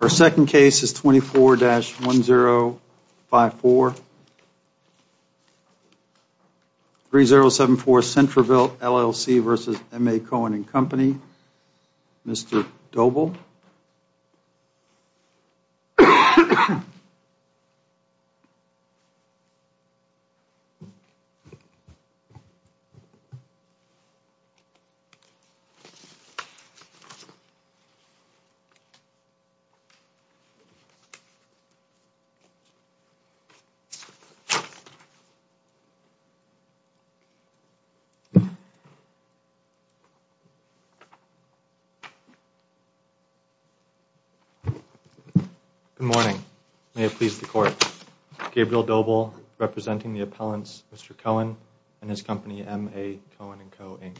Our second case is 24-1054, 3074 Centreville LLC v. M.A. Cohen & Co., Mr. Doble. Good morning. May it please the Court, Gabriel Doble representing the appellants, Mr. Cohen and his company, M.A. Cohen & Co., Inc.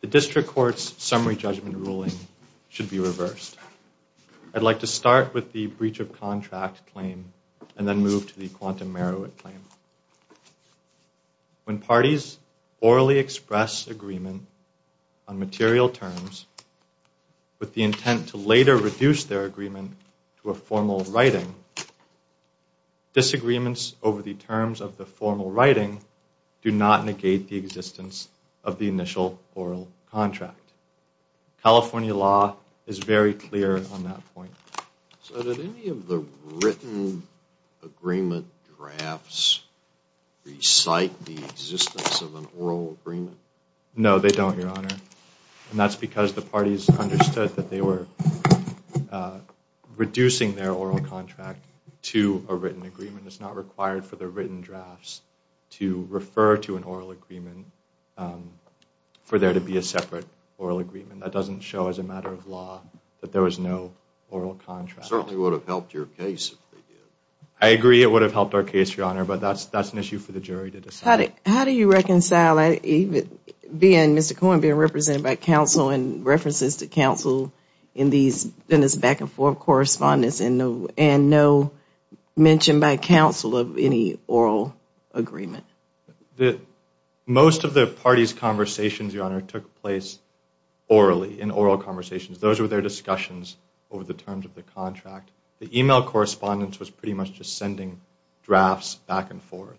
The District Court's summary judgment ruling should be reversed. I'd like to start with the breach of contract claim and then move to the quantum merit claim. When parties orally express agreement on material terms with the intent to later reduce their agreement to a formal writing, disagreements over the terms of writing do not negate the existence of the initial oral contract. California law is very clear on that point. So did any of the written agreement drafts recite the existence of an oral agreement? No, they don't, Your Honor, and that's because the parties understood that they were reducing their oral contract to a written agreement. It's not required for the written drafts to refer to an oral agreement for there to be a separate oral agreement. That doesn't show, as a matter of law, that there was no oral contract. It certainly would have helped your case. I agree it would have helped our case, Your Honor, but that's that's an issue for the jury to decide. How do you reconcile Mr. Cohen being represented by counsel and references to counsel in these back and forth correspondence and no mention by counsel of any oral agreement? Most of the parties' conversations, Your Honor, took place orally, in oral conversations. Those were their discussions over the terms of the contract. The email correspondence was pretty much just sending drafts back and forth.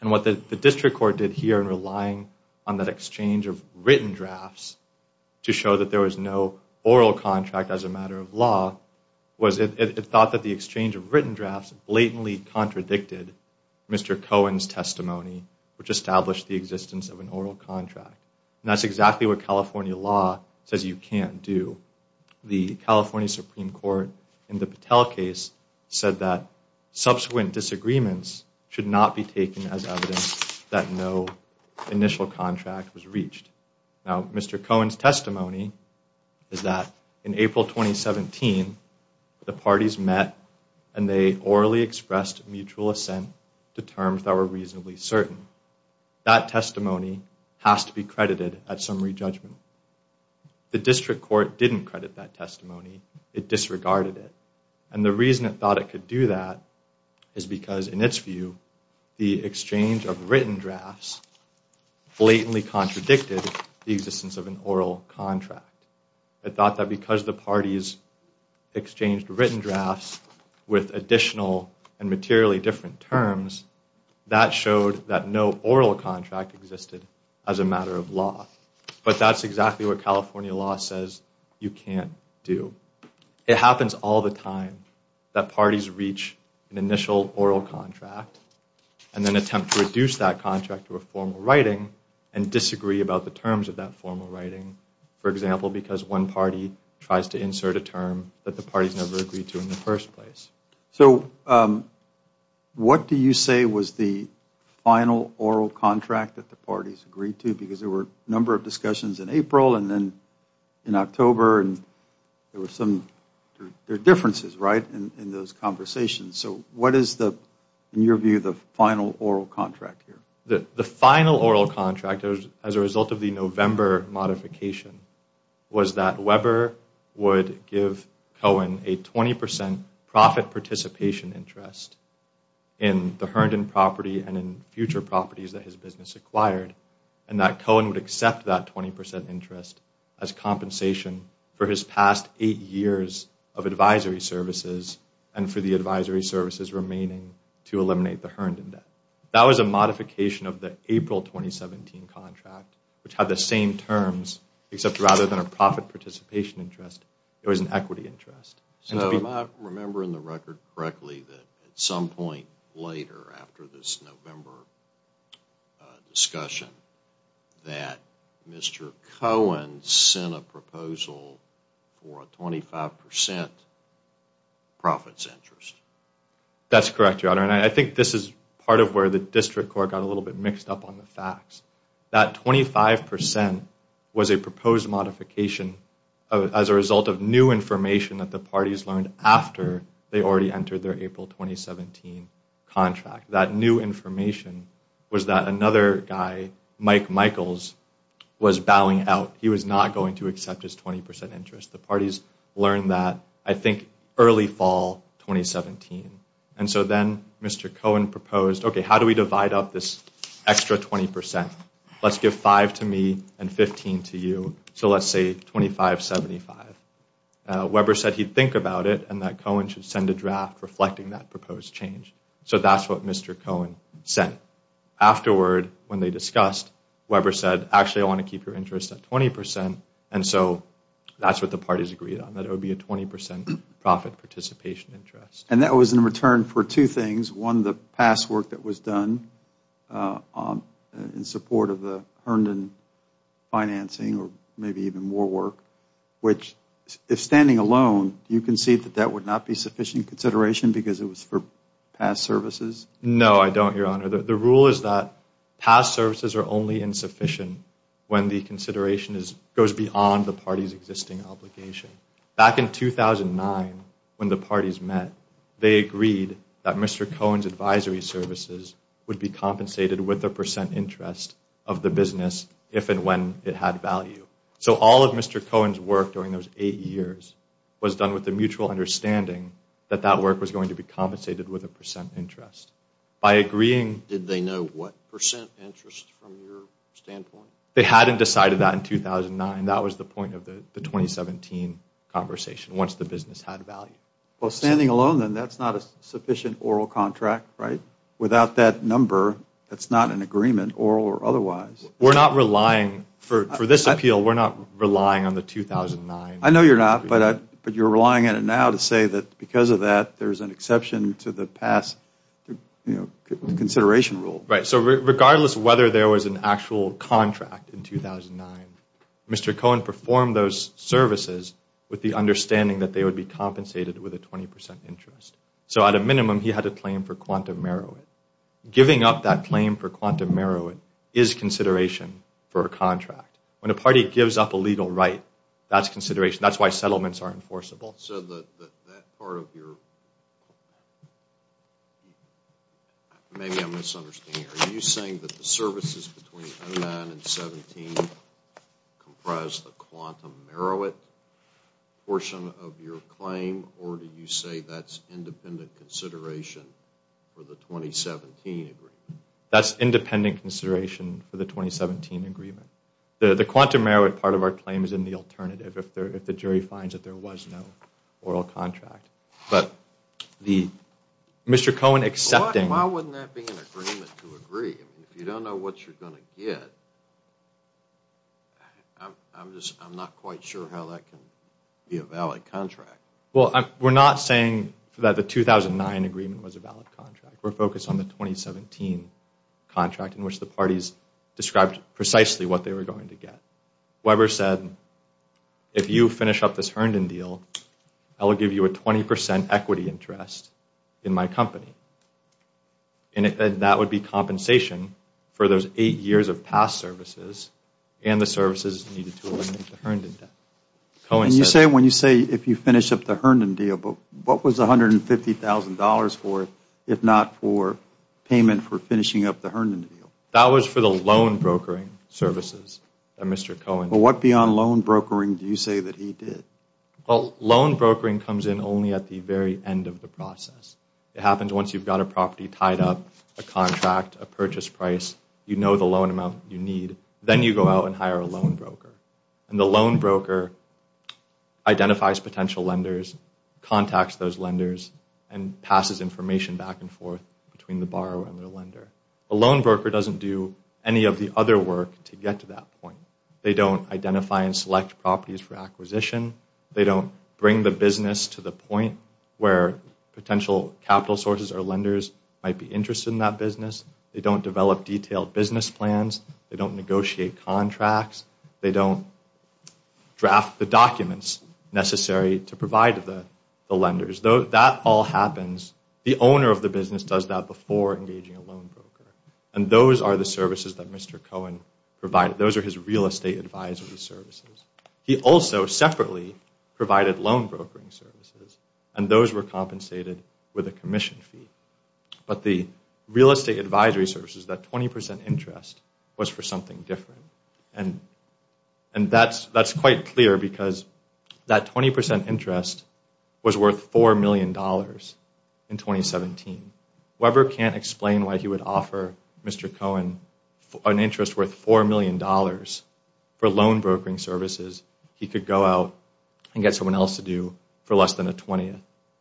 And what the District Court did here in relying on that exchange of written drafts to show that there was no oral contract, as a matter of law, was it thought that the exchange of written drafts blatantly contradicted Mr. Cohen's testimony, which established the existence of an oral contract. That's exactly what California law says you can't do. The California Supreme Court, in the Patel case, said that subsequent disagreements should not be taken as evidence that no initial contract was reached. Now, Mr. Cohen's testimony is that in April 2017, the parties met and they orally expressed mutual assent to terms that were reasonably certain. That testimony has to be credited at summary judgment. The District Court didn't credit that testimony. It disregarded it. And the reason it thought it could do that is because, in its view, the exchange of written drafts blatantly contradicted the existence of an oral contract. It thought that because the parties exchanged written drafts with additional and materially different terms, that showed that no oral contract existed as a matter of law. But that's exactly what California law says you can't do. It happens all the time that parties reach an initial oral contract and then attempt to reduce that contract to a formal writing and disagree about the terms of that formal writing. For example, because one party tries to insert a term that the parties never agreed to in the first place. So what do you say was the final oral contract that the parties agreed to? Because there were a number of discussions in April and then in October and there were some differences, right, in those conversations. So what is the, in your view, the final oral contract here? The final oral contract, as a result of the November modification, was that Weber would give Cohen a 20% profit participation interest in the Herndon property and in future properties that his business acquired. And that Cohen would accept that 20% interest as compensation for his past eight years of advisory services and for the advisory services remaining to eliminate the Herndon debt. That was a modification of the April 2017 contract, which had the same terms, except rather than a profit participation interest, it was an equity interest. So am I remembering the record correctly that at some point later, after this November discussion, that Mr. Cohen sent a proposal for a 25% profits interest? That's correct, Your Honor, and I think this is part of where the District Court got a little bit mixed up on the facts. That 25% was a proposed modification as a result of new information that the parties learned after they already entered their April 2017 contract. That new information was that another guy, Mike Michaels, was bowing out. He was not going to accept his 20% interest. The parties learned that, I think, early fall 2017. And so then Mr. Cohen proposed, okay, how do we divide up this extra 20%? Let's give five to me and 15 to you. So let's say 25-75. Weber said he'd think about it and that Cohen should send a draft reflecting that proposed change. So that's what Mr. Cohen sent. Afterward, when they discussed, Weber said, actually I want to keep your interest at 20%. And so that's what the parties agreed on, that it would be a 20% profit participation interest. And that was in return for two things. One, the past work that was done in support of the Herndon financing or maybe even more work. Which, if standing alone, do you concede that that would not be sufficient consideration because it was for past services? No, I don't, Your Honor. The rule is that past services are only insufficient when the consideration goes beyond the party's existing obligation. Back in 2009, when the parties met, they agreed that Mr. Cohen's advisory services would be compensated with a percent interest of the business if and when it had value. So all of Mr. Cohen's work during those eight years was done with the mutual understanding that that work was going to be compensated with a percent interest. By agreeing... Did they know what percent interest from your standpoint? They hadn't decided that in 2009. That was the point of the 2017 conversation, once the business had value. Well, standing alone, then, that's not a sufficient oral contract, right? Without that number, that's not an agreement, oral or otherwise. We're not relying, for this appeal, we're not relying on the 2009. I know you're not, but you're relying on it now to say that because of that, there's an exception to the past consideration rule. Right, so regardless of whether there was an actual contract in 2009, Mr. Cohen performed those services with the understanding that they would be compensated with a 20% interest. So at a minimum, he had a claim for quantum merit. Giving up that claim for quantum merit is consideration for a contract. When a party gives up a legal right, that's consideration. That's why settlements are enforceable. So that part of your... Maybe I'm misunderstanding. Are you saying that the services between 2009 and 2017 comprise the quantum merit portion of your claim, or do you say that's independent consideration for the 2017 agreement? That's independent consideration for the 2017 agreement. The quantum merit part of our claim is in the alternative, if the jury finds that there was no oral contract. But the... Mr. Cohen accepting... Why wouldn't that be an agreement to agree? If you don't know what you're going to get, I'm just, I'm not quite sure how that can be a valid contract. Well, we're not saying that the 2009 agreement was a valid contract. We're focused on the 2017 contract in which the parties described precisely what they were going to get. Weber said, if you finish up this Herndon deal, I will give you a 20% equity interest in my company. And that would be compensation for those eight years of past services and the services needed to eliminate the Herndon debt. And you say, when you say if you finish up the Herndon deal, but what was $150,000 for, if not for payment for finishing up the Herndon deal? That was for the loan brokering services that Mr. Cohen... But what beyond loan brokering do you say that he did? Well, loan brokering comes in only at the very end of the process. It happens once you've got a property tied up, a contract, a purchase price, you know the loan amount you need, then you go out and hire a loan broker. And the loan broker identifies potential lenders, contacts those lenders, and passes information back and forth between the borrower and the lender. A loan broker doesn't do any of the other work to get to that point. They don't identify and select properties for acquisition. They don't bring the business to the point where potential capital sources or lenders might be interested in that business. They don't develop detailed business plans. They don't negotiate contracts. They don't draft the documents necessary to provide to the lenders. That all happens, the owner of the business does that before engaging a loan broker. And those are the services that Mr. Cohen provided. Those are his real estate advisory services. He also separately provided loan brokering services, and those were compensated with a commission fee. But the real estate advisory services, that 20% interest, was for something different. And that's quite clear because that 20% interest was worth $4 million in 2017. Whoever can't explain why he would offer Mr. Cohen an interest worth $4 million for loan brokering services, he could go out and get someone else to do for less than a 20th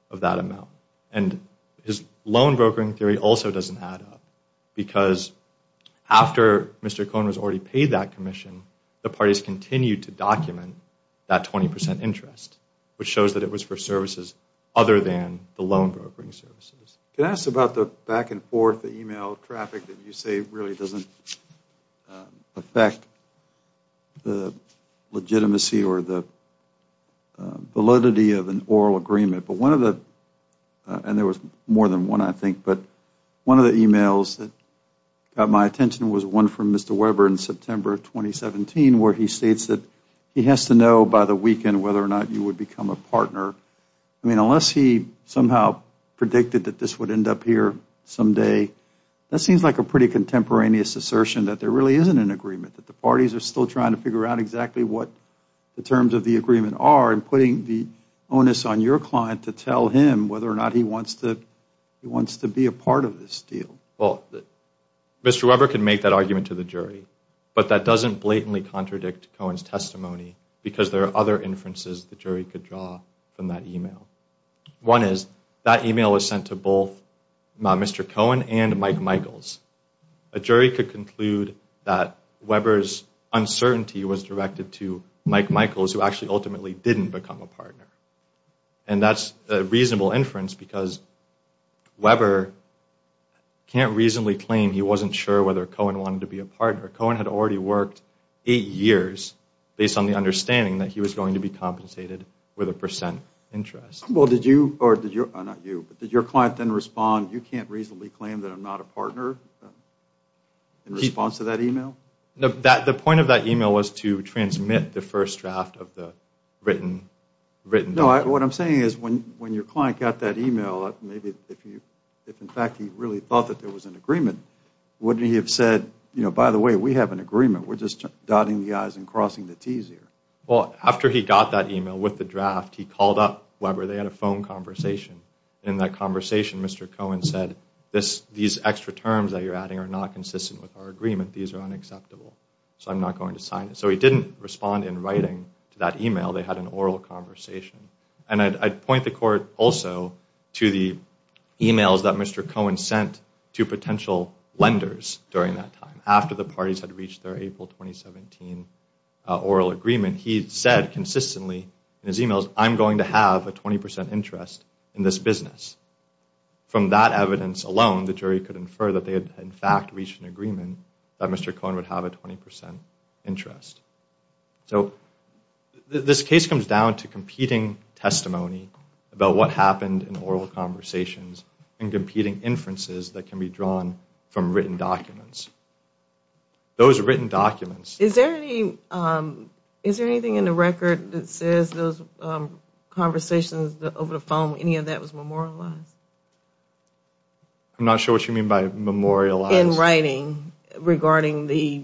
of that amount. And his loan brokering theory also doesn't add up because after Mr. Cohen was already paid that commission, the parties continued to document that 20% interest, which shows that it was for services other than the loan brokering services. Can I ask about the back and forth email traffic that you say really doesn't affect the legitimacy or the validity of an oral agreement? But one of the, and there was more than one I think, but one of the emails that got my attention was one from Mr. Weber in September of 2017 where he states that he has to know by the weekend whether or not you would become a partner. I mean, unless he somehow predicted that this would end up here someday, that seems like a pretty contemporaneous assertion that there really isn't an agreement, that the parties are still trying to figure out exactly what the terms of the agreement are and putting the onus on your client to tell him whether or not he wants to be a part of this deal. Well, Mr. Weber can make that argument to the jury, but that doesn't blatantly contradict Cohen's testimony because there are other inferences the jury could draw from that email. One is that email was sent to both Mr. Cohen and Mike Michaels. A jury could conclude that Weber's uncertainty was directed to Mike Michaels who actually ultimately didn't become a partner. And that's a reasonable inference because Weber can't reasonably claim he wasn't sure whether Cohen wanted to be a partner. Cohen had already worked eight years based on the understanding that he was going to be compensated with a percent interest. Well, did you, or did your, not you, but did your client then respond, you can't reasonably claim that I'm not a partner in response to that email? No, the point of that email was to transmit the first draft of the written document. No, what I'm saying is when your client got that email, maybe if in fact he really thought that there was an agreement, wouldn't he have said, you know, by the way, we have an agreement. We're just dotting the i's and crossing the t's here. Well, after he got that email with the draft, he called up Weber. They had a phone conversation. In that conversation, Mr. Cohen said, these extra terms that you're adding are not consistent with our agreement. These are unacceptable. So I'm not going to sign it. So he didn't respond in writing to that email. They had an oral conversation. And I'd point the court also to the emails that Mr. Cohen sent to potential lenders during that time, after the parties had reached their April 2017 oral agreement. He said consistently in his emails, I'm going to have a 20% interest in this business. From that evidence alone, the jury could infer that they had, in fact, reached an agreement that Mr. Cohen would have a 20% interest. So this case comes down to competing testimony about what happened in oral conversations and competing inferences that can be drawn from written documents. Those written documents. Is there any, is there anything in the record that says those conversations over the phone, any of that was memorialized? I'm not sure what you mean by memorialized. In writing regarding the,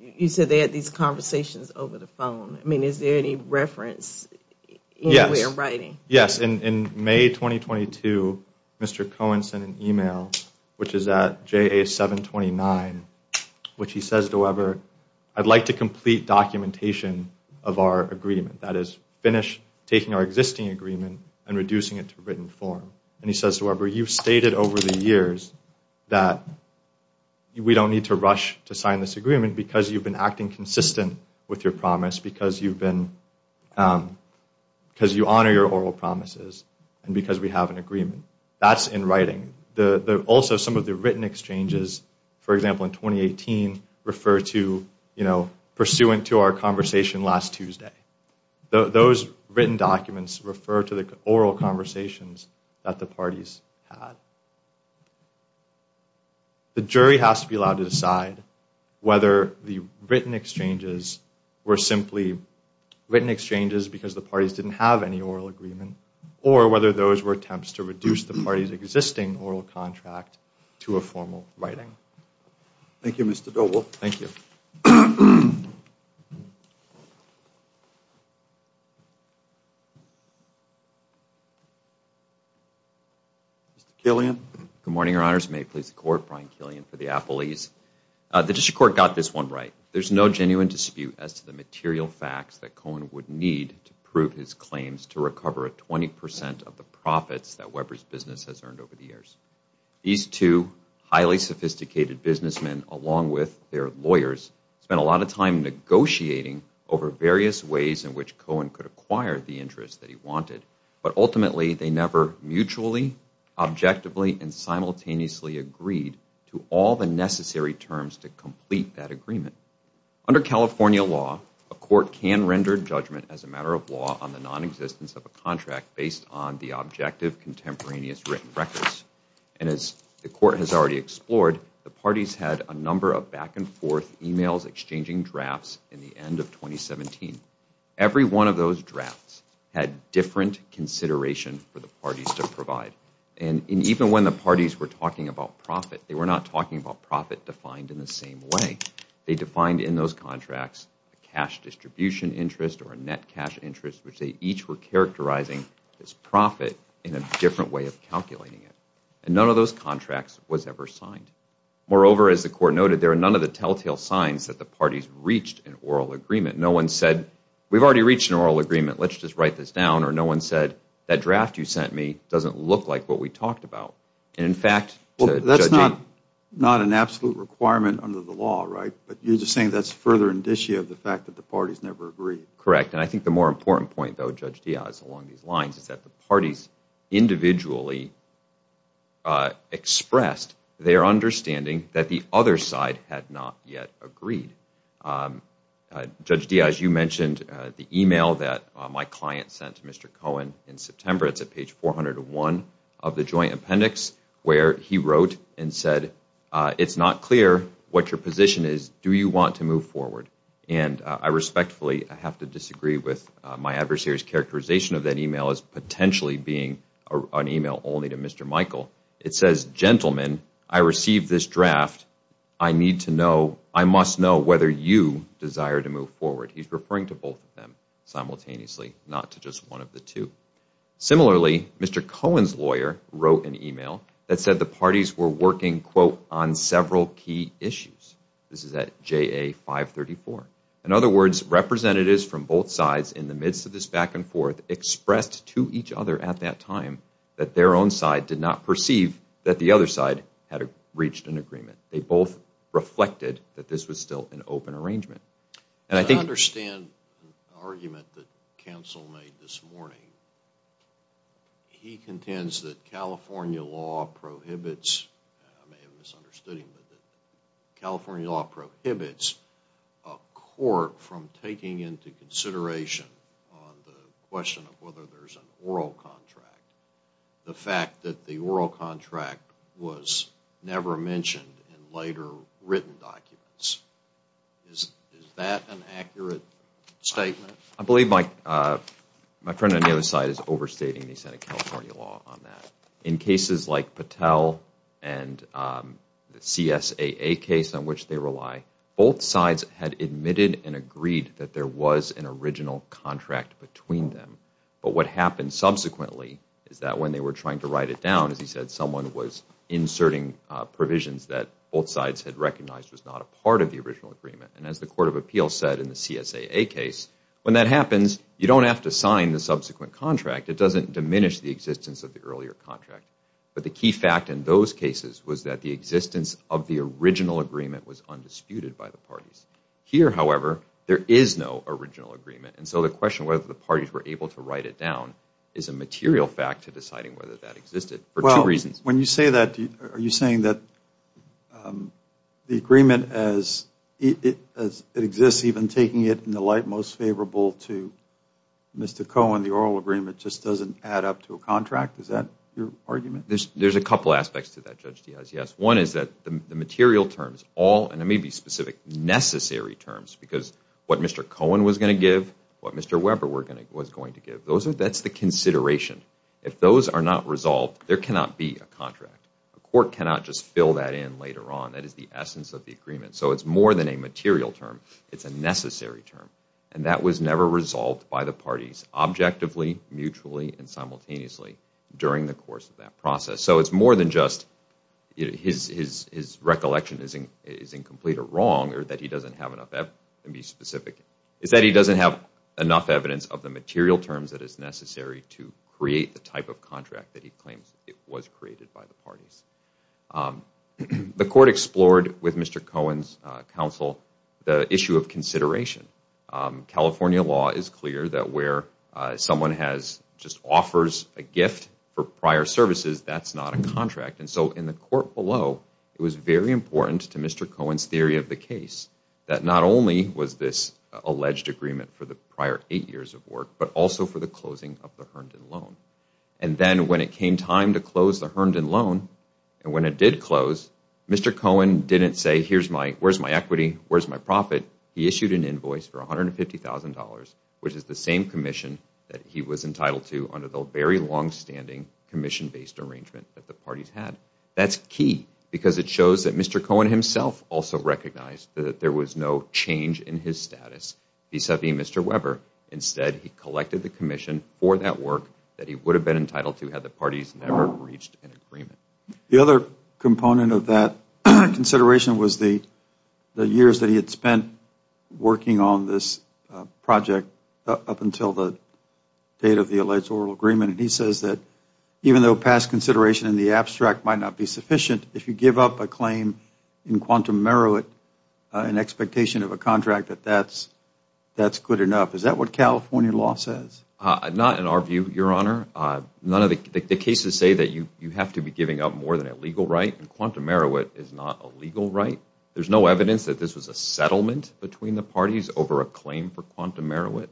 you said they had these conversations over the phone. I mean, is there any reference anywhere in writing? Yes, in May 2022, Mr. Cohen sent an email, which is at JA729, which he says to Weber, I'd like to complete documentation of our agreement. That is, finish taking our existing agreement and reducing it to written form. And he says to Weber, you've stated over the years that we don't need to rush to sign this agreement because you've been acting consistent with your promise, because you've been, because you honor your oral promises, and because we have an agreement. That's in writing. The, also some of the written exchanges, for example, in 2018, refer to, you know, pursuant to our conversation last Tuesday. Those written documents refer to the oral conversations that the parties had. The jury has to be allowed to decide whether the written exchanges were simply written exchanges because the parties didn't have any oral agreement, or whether those were attempts to reduce the party's existing oral contract to a formal writing. Thank you, Mr. Doble. Thank you. Mr. Killian. Good morning, your honors. May it please the court. Brian Killian for the Apple East. The district court got this one right. There's no genuine dispute as to the material facts that Cohen would need to prove his claims to recover a 20% of the profits that Weber's business has earned over the years. These two highly sophisticated businessmen, along with their lawyers, spent a lot of time negotiating over various ways in which Cohen could acquire the interest that he wanted. But ultimately, they never mutually, objectively, and simultaneously agreed to all the necessary terms to complete that agreement. Under California law, a court can render judgment as a matter of law on the non-existence of a contract based on the objective contemporaneous written records. And as the court has already explored, the parties had a number of back-and-forth emails exchanging drafts in the end of 2017. Every one of those drafts had different consideration for the parties to provide. And even when the parties were talking about profit, they were not talking about profit defined in the same way. They defined in those contracts a cash distribution interest or a net cash interest, which they each were characterizing as profit in a different way of calculating it. And none of those contracts was ever signed. Moreover, as the court noted, there are none of the telltale signs that the parties reached an oral agreement. No one said, we've already reached an oral agreement, let's just write this down. Or no one said, that draft you sent me doesn't look like what we talked about. And in fact, judging... Well, that's not an absolute requirement under the law, right? But you're just saying that's further indicia of the fact that the parties never agreed. Correct. And I think the more important point, though, Judge Diaz, along these lines, is that the parties individually expressed their understanding that the other side had not yet agreed. Judge Diaz, you mentioned the email that my client sent to Mr. Cohen in September. It's at page 401 of the joint appendix, where he wrote and said, it's not clear what your position is. Do you want to move forward? And I respectfully have to disagree with my adversary's characterization of that email as potentially being an email only to Mr. Michael. It says, gentlemen, I received this draft. I need to know, I must know whether you desire to move forward. He's referring to both of them simultaneously, not to just one of the two. Similarly, Mr. Cohen's lawyer wrote an email that said the parties were working, quote, on several key issues. This is at JA 534. In other words, representatives from both sides in the midst of this back and forth expressed to each other at that time that their own side did not perceive that the other side had reached an agreement. They both reflected that this was still an open arrangement. I understand the argument that counsel made this morning. He contends that California law prohibits, I may have misunderstood him, California law prohibits a court from taking into consideration on the question of whether there's an oral contract, the fact that the oral contract was never mentioned in later written documents. Is that an accurate statement? I believe my friend on the other side is overstating the Senate California law on that. In cases like Patel and the CSAA case on which they rely, both sides had admitted and agreed that there was an original contract between them. But what happened subsequently is that when they were trying to write it down, as he said, someone was inserting provisions that both sides had recognized was not a part of the original agreement. And as the Court of Appeals said in the CSAA case, when that happens, you don't have to sign the subsequent contract. It doesn't diminish the existence of the earlier contract. But the key fact in those cases was that the existence of the original agreement was undisputed by the parties. Here, however, there is no original agreement. And so the question whether the parties were able to write it down is a material fact to deciding whether that existed for two reasons. When you say that, are you saying that the agreement as it exists, even taking it in the light most favorable to Mr. Cohen, the oral agreement, just doesn't add up to a contract? Is that your argument? There's a couple aspects to that, Judge Diaz, yes. One is that the material terms, all, and it may be specific, necessary terms, because what Mr. Cohen was going to give, what Mr. Weber was going to give, that's the consideration. If those are not resolved, there cannot be a contract. A court cannot just fill that in later on. That is the essence of the agreement. So it's more than a material term. It's a necessary term. And that was never resolved by the parties objectively, mutually, and simultaneously during the course of that process. So it's more than just his recollection is incomplete or wrong or that he doesn't have enough evidence to be specific. It's that he doesn't have enough evidence of the material terms that is necessary to create the type of contract that he claims it was created by the parties. The court explored with Mr. Cohen's counsel the issue of consideration. California law is clear that where someone just offers a gift for prior services, that's not a contract. And so in the court below, it was very important to Mr. Cohen's theory of the case that not only was this alleged agreement for the prior eight years of work, but also for the closing of the Herndon loan. And then when it came time to close the Herndon loan, and when it did close, Mr. Cohen didn't say, where's my equity, where's my profit? He issued an invoice for $150,000, which is the same commission that he was entitled to under the very longstanding commission-based arrangement that the parties had. That's key because it shows that Mr. Cohen himself also recognized that there was no change in his status vis-a-vis Mr. Weber. Instead, he collected the commission for that work that he would have been entitled to had the parties never reached an agreement. The other component of that consideration was the years that he had spent working on this project up until the date of the alleged oral agreement. And he says that even though past consideration in the abstract might not be sufficient, if you give up a claim in quantum merit, an expectation of a contract, that that's good enough. Is that what California law says? Not in our view, Your Honor. The cases say that you have to be giving up more than a legal right, and quantum merit is not a legal right. There's no evidence that this was a settlement between the parties over a claim for quantum merit.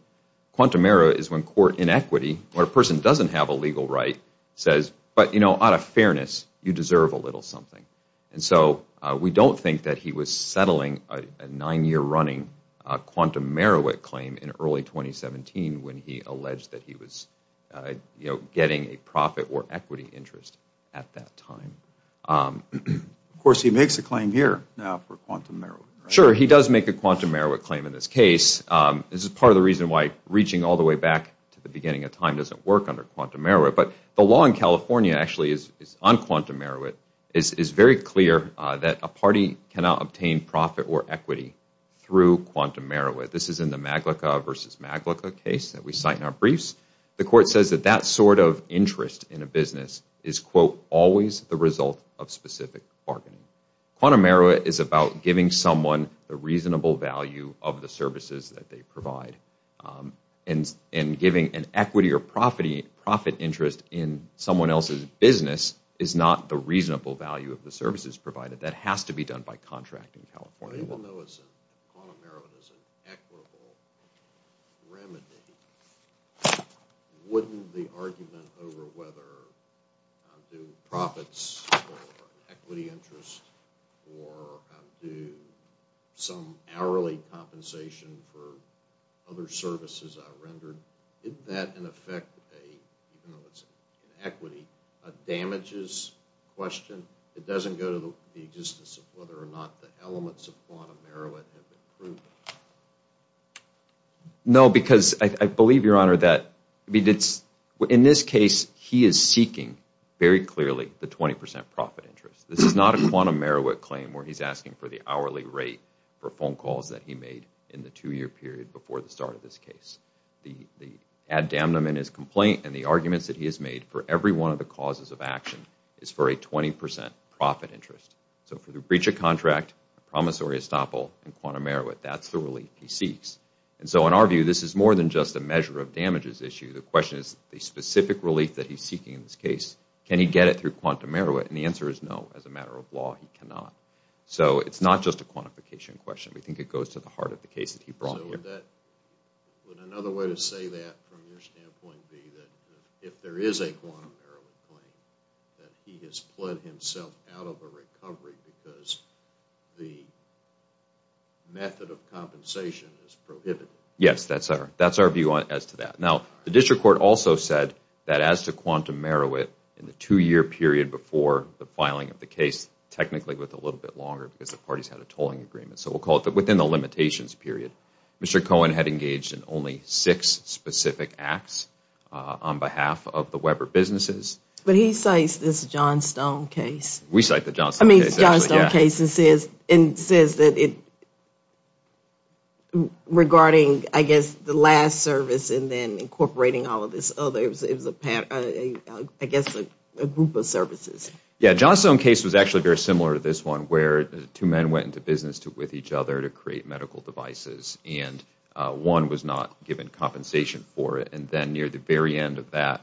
Quantum merit is when court inequity, when a person doesn't have a legal right, says, but, you know, out of fairness, you deserve a little something. And so we don't think that he was settling a nine-year running quantum merit claim in early 2017 when he alleged that he was, you know, getting a profit or equity interest at that time. Of course, he makes a claim here now for quantum merit. Sure, he does make a quantum merit claim in this case. This is part of the reason why reaching all the way back to the beginning of time doesn't work under quantum merit. But the law in California actually is on quantum merit, is very clear that a party cannot obtain profit or equity through quantum merit. This is in the Maglicka v. Maglicka case that we cite in our briefs. The court says that that sort of interest in a business is, quote, always the result of specific bargaining. Quantum merit is about giving someone the reasonable value of the services that they provide. And giving an equity or profit interest in someone else's business is not the reasonable value of the services provided. That has to be done by contract in California. Even though quantum merit is an equitable remedy, wouldn't the argument over whether profits or equity interest or some hourly compensation for other services are rendered, isn't that in effect, even though it's an equity, a damages question? It doesn't go to the existence of whether or not the elements of quantum merit have been proven? No, because I believe, Your Honor, that in this case, he is seeking very clearly the 20% profit interest. This is not a quantum merit claim where he's asking for the hourly rate for phone calls that he made in the two-year period before the start of this case. The ad damnum in his complaint and the arguments that he has made for every one of the causes of action is for a 20% profit interest. So for the breach of contract, promissory estoppel, and quantum merit, that's the relief he seeks. And so in our view, this is more than just a measure of damages issue. The question is the specific relief that he's seeking in this case. Can he get it through quantum merit? And the answer is no. As a matter of law, he cannot. So it's not just a quantification question. We think it goes to the heart of the case that he brought here. Would another way to say that from your standpoint be that if there is a quantum merit claim, that he has pled himself out of a recovery because the method of compensation is prohibited? Yes, that's our view as to that. Now, the district court also said that as to quantum merit, in the two-year period before the filing of the case, technically with a little bit longer because the parties had a tolling agreement. So we'll call it within the limitations period. Mr. Cohen had engaged in only six specific acts on behalf of the Weber businesses. But he cites this Johnstone case. We cite the Johnstone case. I mean, Johnstone case and says that it regarding, I guess, the last service and then incorporating all of this other. It was, I guess, a group of services. Yeah, Johnstone case was actually very similar to this one where two men went into business with each other to create medical devices. And one was not given compensation for it. And then near the very end of that,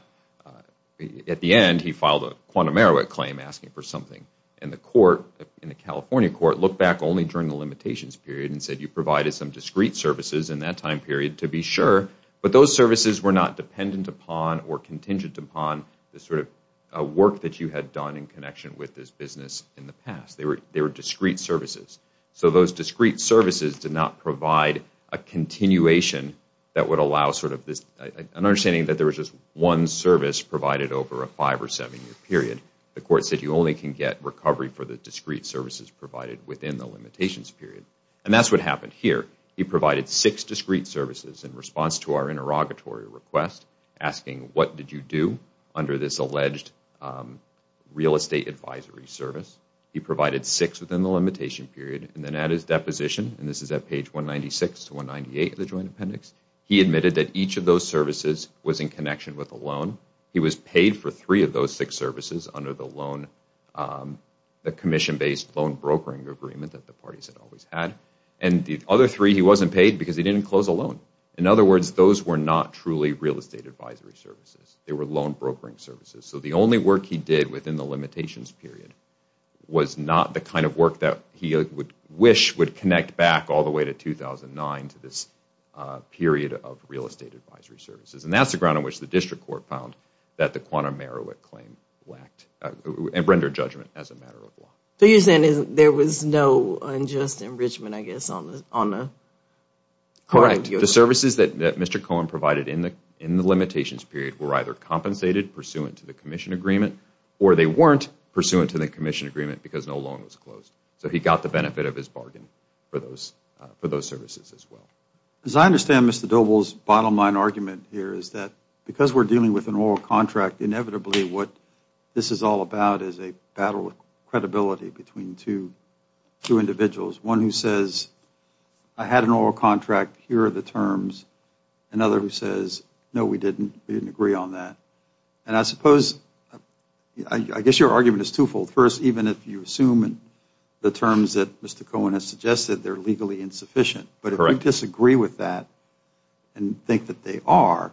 at the end, he filed a quantum merit claim asking for something. And the court, in the California court, looked back only during the limitations period and said you provided some discreet services in that time period to be sure. But those services were not dependent upon or contingent upon the sort of work that you had done in connection with this business in the past. They were discreet services. So those discreet services did not provide a continuation that would allow sort of this understanding that there was just one service provided over a five or seven-year period. The court said you only can get recovery for the discreet services provided within the limitations period. And that's what happened here. He provided six discreet services in response to our interrogatory request asking what did you do under this alleged real estate advisory service. He provided six within the limitation period. And then at his deposition, and this is at page 196 to 198 of the joint appendix, he admitted that each of those services was in connection with a loan. He was paid for three of those six services under the commission-based loan brokering agreement that the parties had always had. And the other three he wasn't paid because he didn't close a loan. In other words, those were not truly real estate advisory services. They were loan brokering services. So the only work he did within the limitations period was not the kind of work that he would wish would connect back all the way to 2009 to this period of real estate advisory services. And that's the ground on which the district court found that the quantum merit claim lacked and rendered judgment as a matter of law. So you're saying there was no unjust enrichment, I guess, on the part of the The services that Mr. Cohen provided in the limitations period were either compensated pursuant to the commission agreement or they weren't pursuant to the commission agreement because no loan was closed. So he got the benefit of his bargain for those services as well. As I understand Mr. Doble's bottom line argument here is that because we're dealing with an oral contract, inevitably what this is all about is a battle of credibility between two individuals. One who says, I had an oral contract, here are the terms. Another who says, no, we didn't. We didn't agree on that. And I suppose, I guess your argument is twofold. First, even if you assume the terms that Mr. Cohen has suggested, they're legally insufficient. But if you disagree with that and think that they are,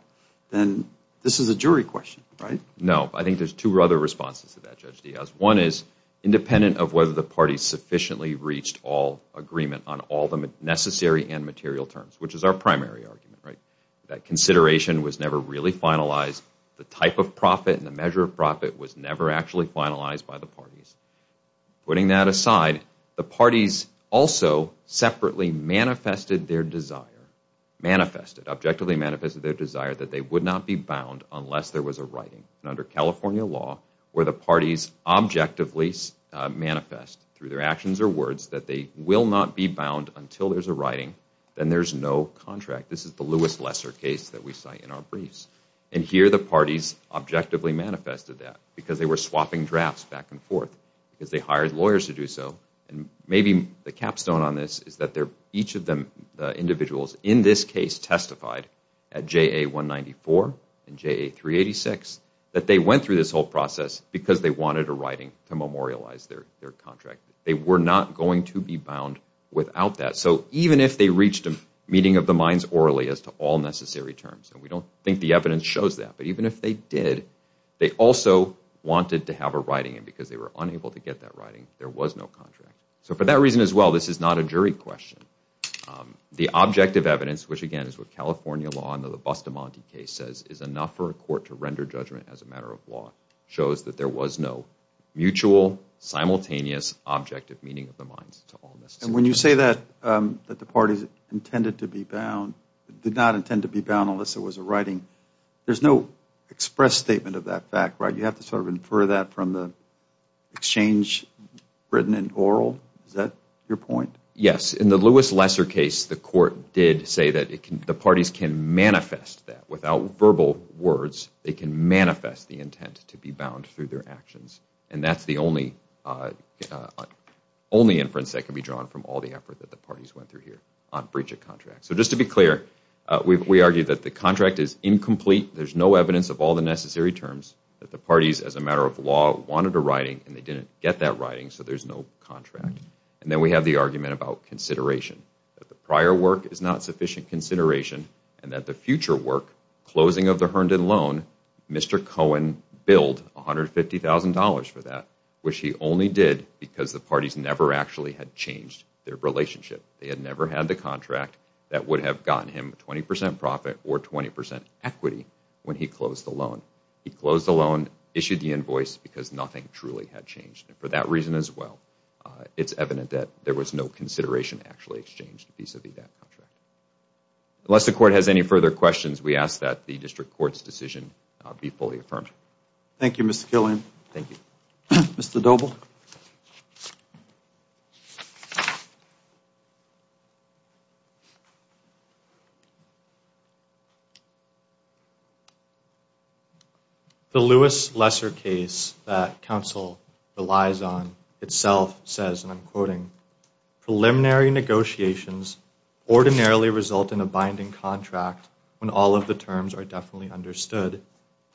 then this is a jury question, right? No. I think there's two other responses to that, Judge Diaz. One is independent of whether the parties sufficiently reached all agreement on all the necessary and material terms, which is our primary argument, right? That consideration was never really finalized. The type of profit and the measure of profit was never actually finalized by the parties. Putting that aside, the parties also separately manifested their desire, manifested, objectively manifested their desire that they would not be bound unless there was a writing. And under California law, where the parties objectively manifest through their actions or words that they will not be bound until there's a writing, then there's no contract. This is the Lewis Lesser case that we cite in our briefs. And here the parties objectively manifested that because they were swapping drafts back and forth, because they hired lawyers to do so. And maybe the capstone on this is that each of the individuals in this case testified at JA 194 and JA 386 that they went through this whole process because they wanted a writing to memorialize their contract. They were not going to be bound without that. So even if they reached a meeting of the minds orally as to all necessary terms, and we don't think the evidence shows that, but even if they did, they also wanted to have a writing. And because they were unable to get that writing, there was no contract. So for that reason as well, this is not a jury question. The objective evidence, which again is what California law under the Bustamante case says is enough for a court to render judgment as a matter of law, shows that there was no mutual, simultaneous objective meeting of the minds to all necessary terms. And when you say that the parties intended to be bound, did not intend to be bound unless there was a writing, there's no express statement of that fact, right? You have to sort of infer that from the exchange written and oral. Is that your point? Yes. In the Lewis Lesser case, the court did say that the parties can manifest that. They can manifest the intent to be bound through their actions, and that's the only inference that can be drawn from all the effort that the parties went through here on breach of contract. So just to be clear, we argue that the contract is incomplete. There's no evidence of all the necessary terms that the parties, as a matter of law, wanted a writing, and they didn't get that writing, so there's no contract. And then we have the argument about consideration, that the prior work is not sufficient consideration, and that the future work, closing of the Herndon loan, Mr. Cohen billed $150,000 for that, which he only did because the parties never actually had changed their relationship. They had never had the contract that would have gotten him 20% profit or 20% equity when he closed the loan. He closed the loan, issued the invoice, because nothing truly had changed. And for that reason as well, it's evident that there was no consideration actually exchanged vis-à-vis that contract. Unless the court has any further questions, we ask that the district court's decision be fully affirmed. Thank you, Mr. Killian. Thank you. Mr. Doble. The Lewis Lesser case that counsel relies on itself says, and I'm quoting, preliminary negotiations ordinarily result in a binding contract when all of the terms are definitely understood,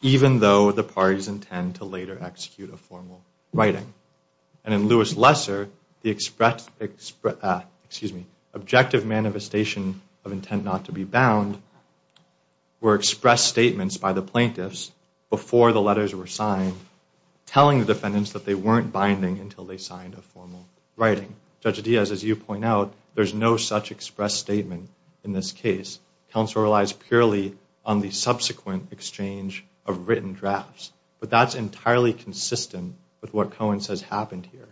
even though the parties intend to later execute a formal writing. And in Lewis Lesser, the objective manifestation of intent not to be bound were expressed statements by the plaintiffs before the letters were signed, telling the defendants that they weren't binding until they signed a formal writing. Judge Diaz, as you point out, there's no such expressed statement in this case. Counsel relies purely on the subsequent exchange of written drafts. But that's entirely consistent with what Cohen says happened here,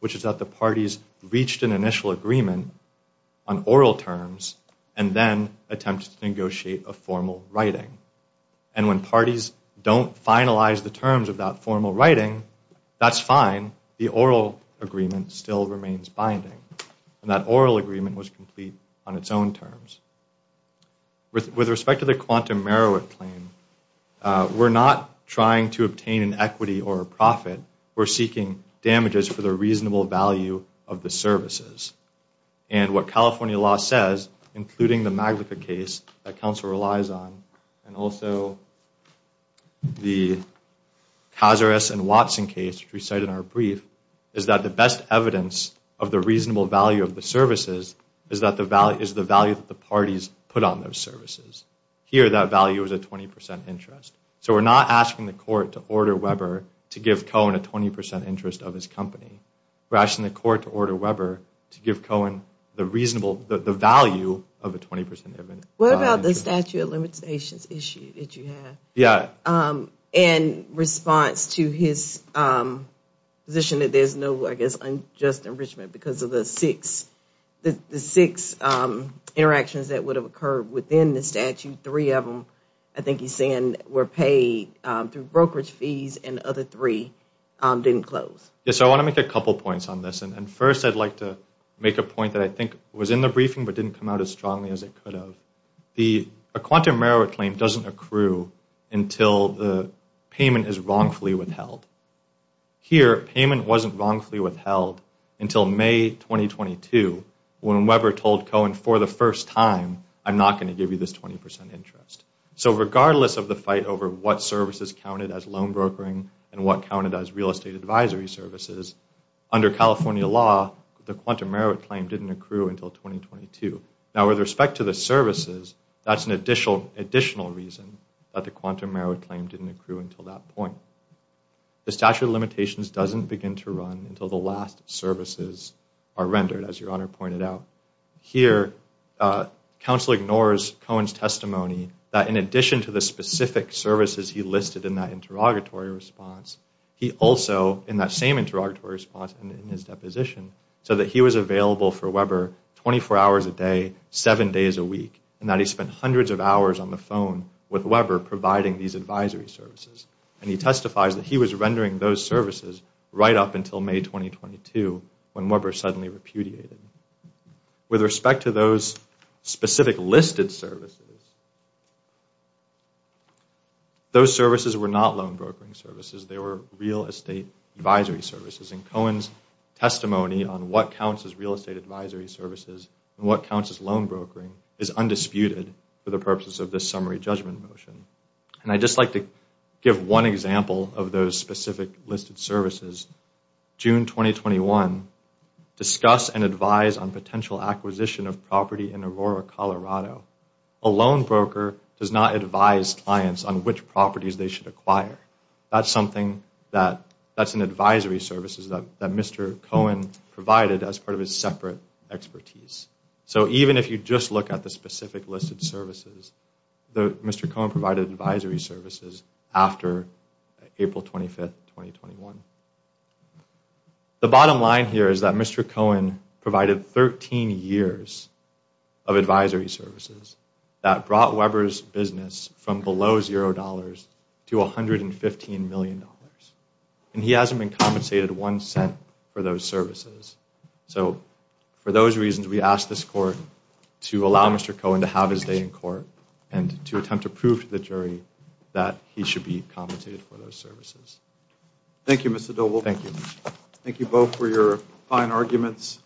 which is that the parties reached an initial agreement on oral terms and then attempted to negotiate a formal writing. And when parties don't finalize the terms of that formal writing, that's fine. The oral agreement still remains binding. And that oral agreement was complete on its own terms. With respect to the Quantum Meroweth claim, we're not trying to obtain an equity or a profit. We're seeking damages for the reasonable value of the services. And what California law says, including the Maglica case that counsel relies on, and also the Cazares and Watson case, which we cite in our brief, is that the best evidence of the reasonable value of the services is the value that the parties put on those services. Here, that value is a 20% interest. So we're not asking the court to order Weber to give Cohen a 20% interest of his company. We're asking the court to order Weber to give Cohen the value of a 20% interest. What about the statute of limitations issue that you have? Yeah. In response to his position that there's no, I guess, unjust enrichment because of the six interactions that would have occurred within the statute, three of them, I think he's saying, were paid through brokerage fees and the other three didn't close. So I want to make a couple points on this. And first I'd like to make a point that I think was in the briefing but didn't come out as strongly as it could have. A quantum merit claim doesn't accrue until the payment is wrongfully withheld. Here, payment wasn't wrongfully withheld until May 2022 when Weber told Cohen for the first time, I'm not going to give you this 20% interest. So regardless of the fight over what services counted as loan brokering and what counted as real estate advisory services, under California law, the quantum merit claim didn't accrue until 2022. Now with respect to the services, that's an additional reason that the quantum merit claim didn't accrue until that point. The statute of limitations doesn't begin to run until the last services are rendered, as Your Honor pointed out. Here, counsel ignores Cohen's testimony that in addition to the specific services he listed in that interrogatory response, he also, in that same interrogatory response and in his deposition, said that he was available for Weber 24 hours a day, seven days a week, and that he spent hundreds of hours on the phone with Weber providing these advisory services. And he testifies that he was rendering those services right up until May 2022 when Weber suddenly repudiated. With respect to those specific listed services, those services were not loan brokering services. They were real estate advisory services. And Cohen's testimony on what counts as real estate advisory services and what counts as loan brokering is undisputed for the purpose of this summary judgment motion. And I'd just like to give one example of those specific listed services. June 2021, discuss and advise on potential acquisition of property in Aurora, Colorado. A loan broker does not advise clients on which properties they should acquire. That's an advisory services that Mr. Cohen provided as part of his separate expertise. So even if you just look at the specific listed services, Mr. Cohen provided advisory services after April 25, 2021. The bottom line here is that Mr. Cohen provided 13 years of advisory services that brought Weber's business from below $0 to $115 million. And he hasn't been compensated one cent for those services. So for those reasons, we ask this court to allow Mr. Cohen to have his day in court and to attempt to prove to the jury that he should be compensated for those services. Thank you, Mr. Doble. Thank you. Thank you both for your fine arguments.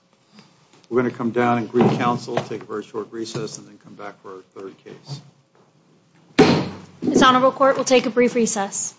We're going to come down and brief counsel, take a very short recess, and then come back for our third case. This honorable court will take a brief recess.